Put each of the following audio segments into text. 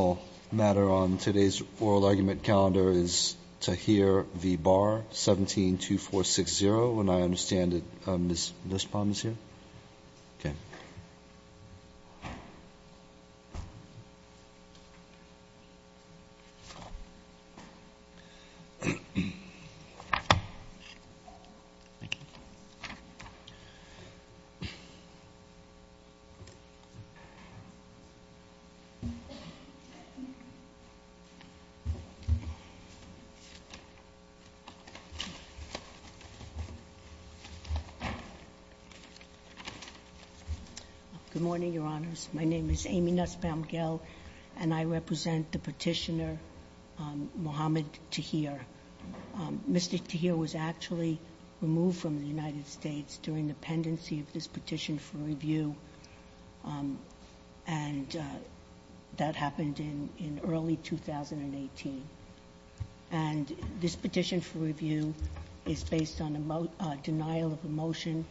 172460. And I understand that Ms. Lispon is here. Good morning, Your Honors. My name is Amy Nussbaum-Gell, and I represent the petitioner Mohamed Tahir. Mr. Tahir was actually removed from the United States during the pendency of this petition for review, and that happened in early 2018. And this petition for review is based on a denial of a motion,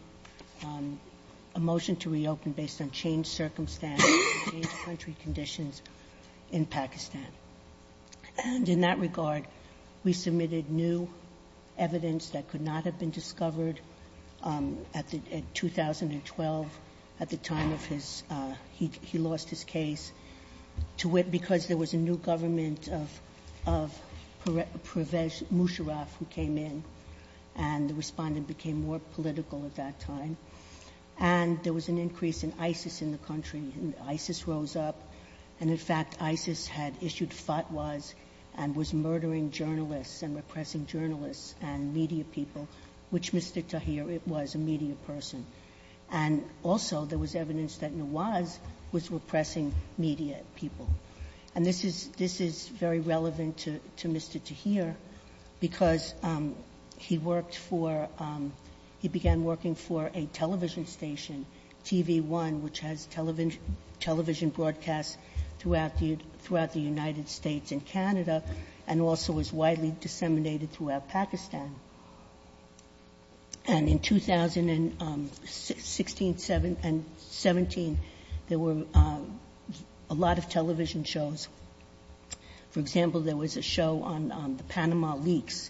a motion to reopen based on changed circumstances, changed country conditions in Pakistan. And in that regard, we submitted new evidence that could not have been discovered in 2012 at the time of his, he lost his case, because there was a new government of Musharraf who came in, and the respondent became more political at that time. And there was an increase in ISIS in the country, and ISIS rose up. And in fact, ISIS had issued fatwas and was murdering journalists and repressing journalists and repressing media people, which Mr. Tahir was a media person. And also, there was evidence that Nawaz was repressing media people. And this is very relevant to Mr. Tahir because he worked for, he began working for a television station, TV One, which has television broadcasts throughout the United States and Canada and also is widely disseminated throughout Pakistan. And in 2016, 17, there were a lot of television shows. For example, there was a show on the Panama Leaks,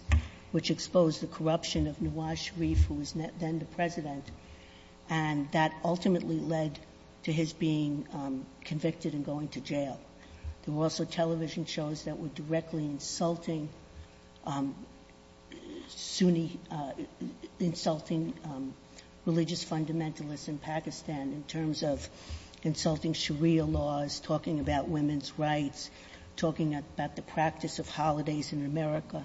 which exposed the corruption of Nawaz Sharif, who was then the President, and that ultimately led to his being convicted and going to jail. There were also television shows that were directly insulting Sunni, insulting religious fundamentalists in Pakistan in terms of insulting Sharia laws, talking about women's rights, talking about the practice of holidays in America.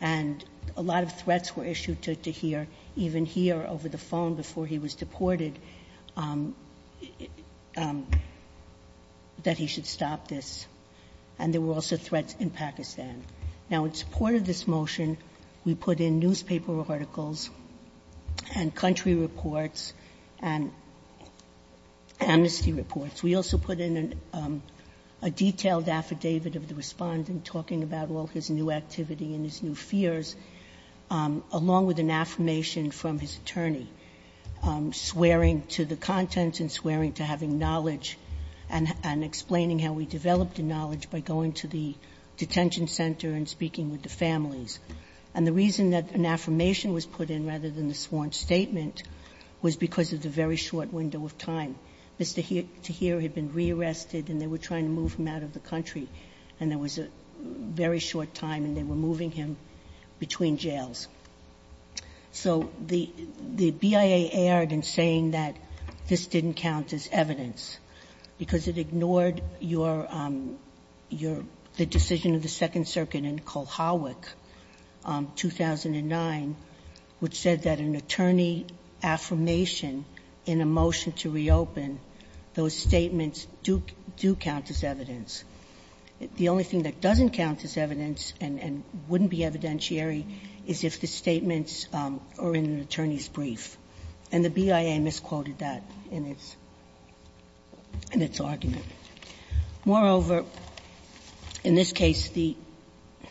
And a lot of threats were issued to Tahir, even here over the phone before he was deported, that he should stop this. And there were also threats that he should stop his rights in Pakistan. Now, in support of this motion, we put in newspaper articles and country reports and amnesty reports. We also put in a detailed affidavit of the respondent talking about all his new activity and his new fears, along with an affirmation from his attorney, swearing to the content and swearing to having knowledge and explaining how he developed the knowledge by going to the detention center and speaking with the families. And the reason that an affirmation was put in, rather than the sworn statement, was because of the very short window of time. Mr. Tahir had been rearrested and they were trying to move him out of the country, and there was a very short time and they were moving him between jails. So the BIA erred in saying that this didn't count as evidence, because it ignored your the decision of the Second Circuit in Kulhawic, 2009, which said that an attorney affirmation in a motion to reopen, those statements do count as evidence. The only thing that doesn't count as evidence and wouldn't be evidentiary is if the statements are in an attorney's brief. And the BIA misquoted that in its argument. Moreover, in this case, the ‑‑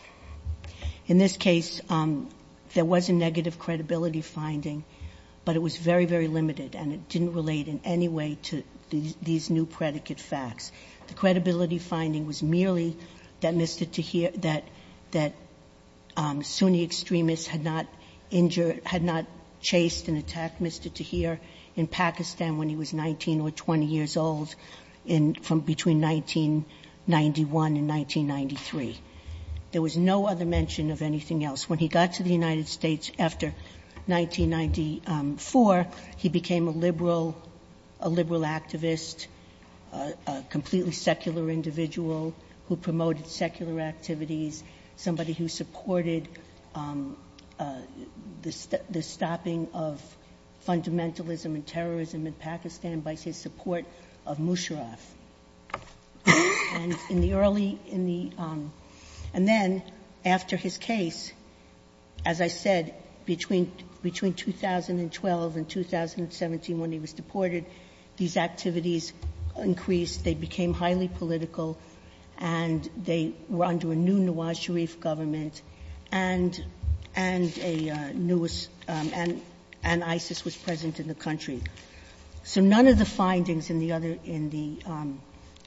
in this case, there was a negative credibility finding, but it was very, very limited, and it didn't relate in any way to these new predicate facts. The credibility finding was merely that Mr. Tahir, that Sunni extremists had not injured ‑‑ had not chased and attacked Mr. Tahir in Pakistan when he was 19 or 20 years old in ‑‑ from between 1991 and 1993. There was no other mention of anything else. When he got to the United States after 1994, he became a liberal activist, a completely secular individual who promoted secular activities, somebody who supported the stopping of fundamentalism and terrorism in Pakistan by his support of Musharraf. And in the early ‑‑ in the ‑‑ and then after his case, as I said, between 2012 and 2017 when he was deported, these activities increased. They became highly political, and they were under a new Nawaz Sharif government and a new establishment and ISIS was present in the country. So none of the findings in the other ‑‑ in the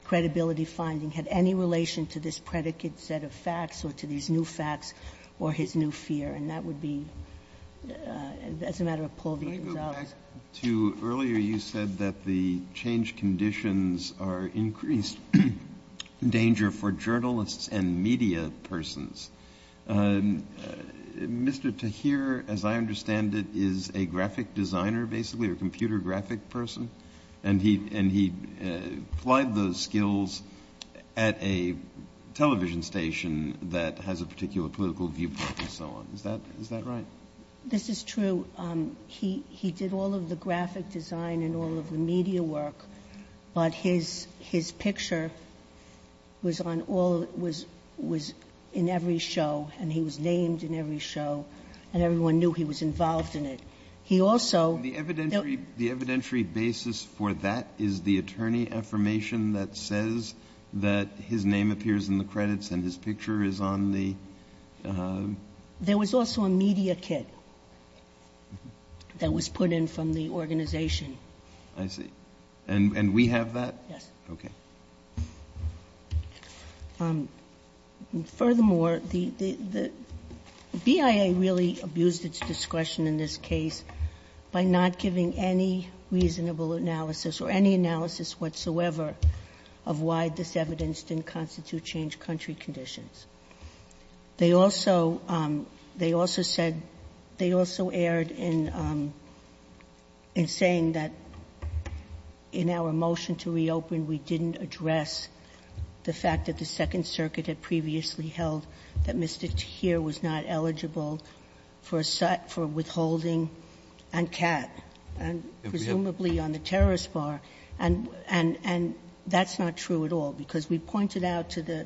credibility finding had any relation to this predicate set of facts or to these new facts or his new fear, and that would be ‑‑ that's a matter of Paul v. Gonzales. Kennedy. Can I go back to earlier you said that the change conditions are increased danger for journalists and media persons. Mr. Tahir, as I understand it, is a very graphic designer, basically, a computer graphic person, and he applied those skills at a television station that has a particular political viewpoint and so on. Is that right? This is true. He did all of the graphic design and all of the media work, but his picture was on all ‑‑ was in every show, and he was named in every show, and everyone knew he was involved in it. He also ‑‑ The evidentiary basis for that is the attorney affirmation that says that his name appears in the credits and his picture is on the ‑‑ There was also a media kit that was put in from the organization. I see. And we have that? Yes. Okay. And furthermore, the BIA really abused its discretion in this case by not giving any reasonable analysis or any analysis whatsoever of why this evidence didn't constitute change country conditions. They also ‑‑ they also said ‑‑ they also erred in saying that in our motion to reopen, we didn't address the fact that the Second Circuit had previously held that Mr. Tahir was not eligible for withholding on Kat, and presumably on the terrorist bar. And that's not true at all, because we pointed out to the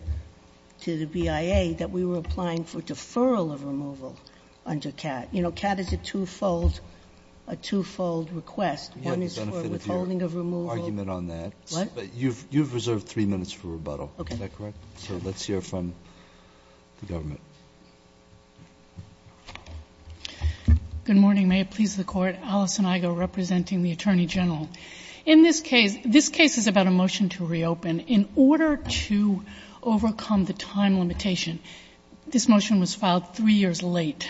BIA that we were applying for deferral of removal under Kat. You know, Kat is a twofold request. One is for withholding of removal. You have the benefit of your argument on that. What? You have reserved three minutes for rebuttal. Is that correct? Okay. So let's hear from the government. Good morning. May it please the Court. Alison Igo representing the Attorney General. In this case ‑‑ this case is about a motion to reopen. In order to overcome the time limitation, this motion was filed three years late.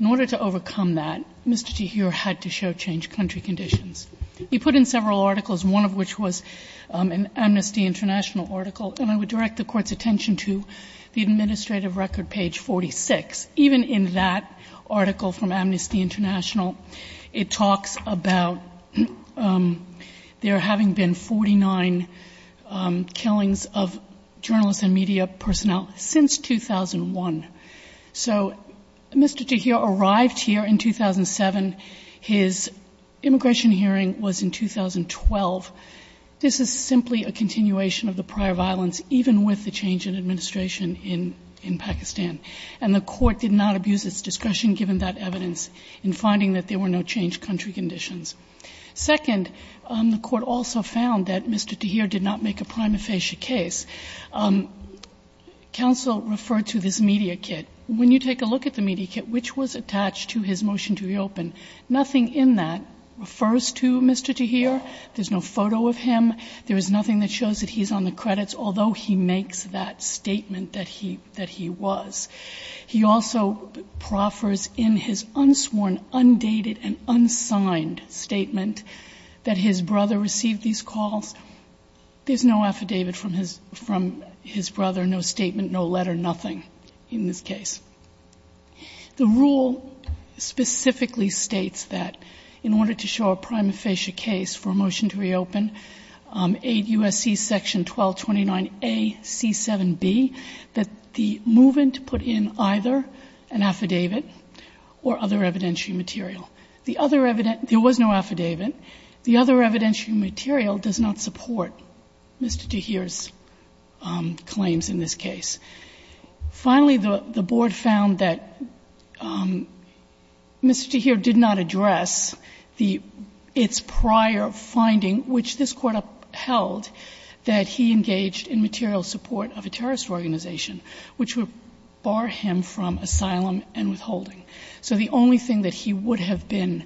In order to overcome that, Mr. Tahir had to show change country conditions. He put in several articles, one of which was an Amnesty International article, and I would direct the Court's attention to the administrative record page 46. Even in that article from Amnesty International, it talks about there having been 49 killings of journalists and media personnel since 2001. So Mr. Tahir arrived here in 2007. His immigration hearing was in 2012. This is simply a continuation of the prior violence, even with the change in administration in Pakistan. And the Court did not abuse its discretion, given that evidence, in finding that there were no change country conditions. Second, the Court also found that Mr. Tahir did not make a prima facie case. The counsel referred to this media kit. When you take a look at the media kit, which was attached to his motion to reopen, nothing in that refers to Mr. Tahir. There's no photo of him. There is nothing that shows that he's on the credits, although he makes that statement that he was. He also proffers in his unsworn, undated and unsigned statement that his brother received these calls. There's no affidavit from his brother, no statement, no letter, nothing in this case. The rule specifically states that in order to show a prima facie case for a motion to reopen, Aid U.S.C. Section 1229A.C.7b, that the movement put in either an affidavit or other evidentiary material. The other evident — there was no affidavit. The other evidentiary material does not support Mr. Tahir's claims in this case. Finally, the Board found that Mr. Tahir did not address the — its prior finding, which this Court upheld, that he engaged in material support of a terrorist organization, which would bar him from asylum and withholding. So the only thing that he would have been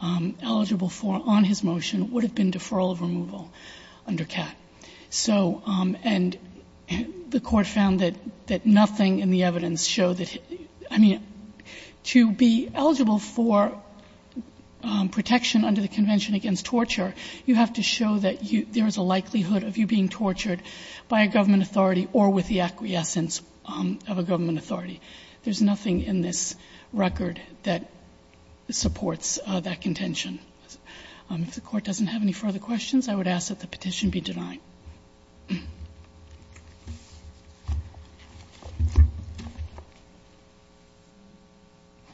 eligible for on his motion would have been deferral of removal under CAT. So — and the Court found that nothing in the evidence showed that — I mean, to be eligible for protection under the Convention against Torture, you have to show that you — there is a likelihood of you being tortured by a government authority or with the acquiescence of a government authority. There's nothing in this record that supports that contention. If the Court doesn't have any further questions, I would ask that the petition be denied. Breyer.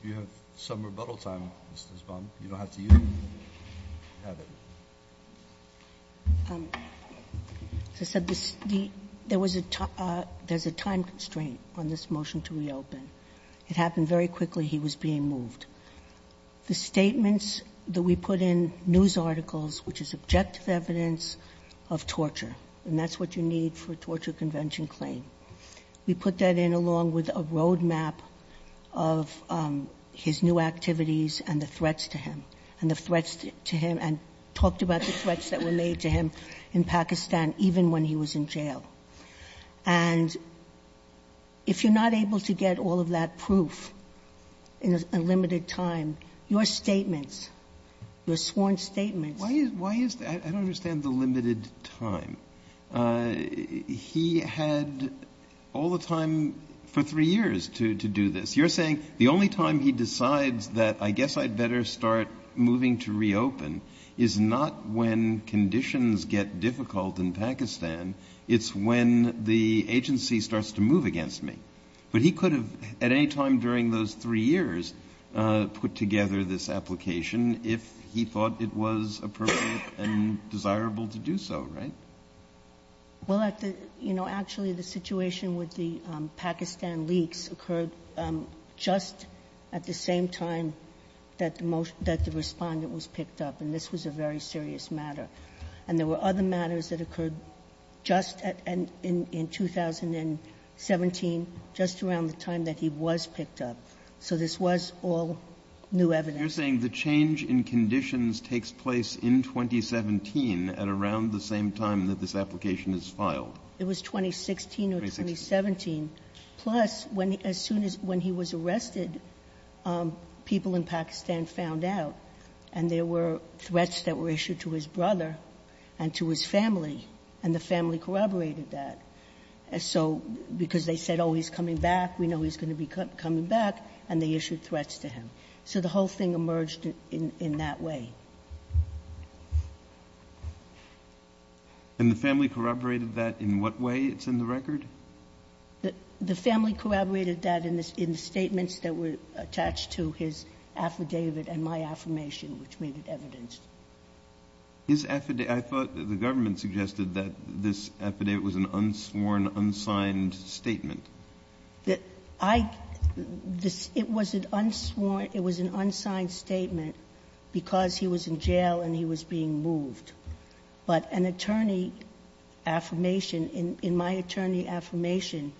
You have some rebuttal time, Mrs. Baum. You don't have to use it. As I said, there was a — there's a time constraint on this motion to reopen. It happened very quickly. He was being moved. The statements that we put in news articles, which is objective evidence of torture, and that's what you need for a torture convention claim, we put that in along with a roadmap of his new activities and the threats to him, and the threats to him, and talked about the threats that were made to him in Pakistan even when he was in jail. And if you're not able to get all of that proof in a limited time, your statements, your sworn statements Why is — why is — I don't understand the limited time. He had all the time for three years to do this. You're saying the only time he decides that I guess I'd better start moving to reopen is not when conditions get difficult in Pakistan. It's when the agency starts to move against me. But he could have at any time during those three years put together this application if he thought it was appropriate and desirable to do so, right? Well, at the — you know, actually, the situation with the Pakistan leaks occurred just at the same time that the respondent was picked up, and this was a very serious matter. And there were other matters that occurred just in 2017, just around the time that he was picked up. So this was all new evidence. You're saying the change in conditions takes place in 2017 at around the same time that this application is filed? It was 2016 or 2017. 2016. Plus, when — as soon as — when he was arrested, people in Pakistan found out, and there were threats that were issued to his brother and to his family, and the family corroborated that. So because they said, oh, he's coming back, we know he's going to be coming back, and they issued threats to him. So the whole thing emerged in that way. And the family corroborated that in what way? It's in the record? The family corroborated that in the statements that were attached to his affidavit and my affirmation, which made it evidenced. His affidavit? I thought the government suggested that this affidavit was an unsworn, unsigned statement. That I — it was an unsworn — it was an unsigned statement because he was in jail and he was being moved. But an attorney affirmation — in my attorney affirmation,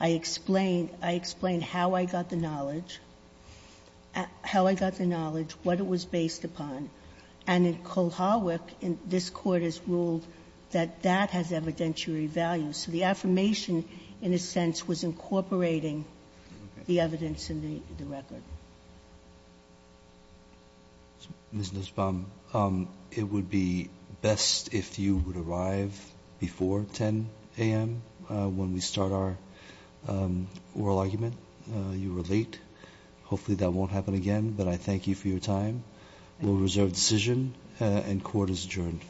I explain — I explain how I got the knowledge, how I got the knowledge, what it was based upon. And in Kulhawak, this Court has ruled that that has evidentiary values. So the affirmation, in a sense, was incorporating the evidence in the record. Ms. Nussbaum, it would be best if you would arrive before 10 a.m. when we start our oral argument. You were late. Hopefully, that won't happen again, but I thank you for your time. We'll reserve decision, and court is adjourned.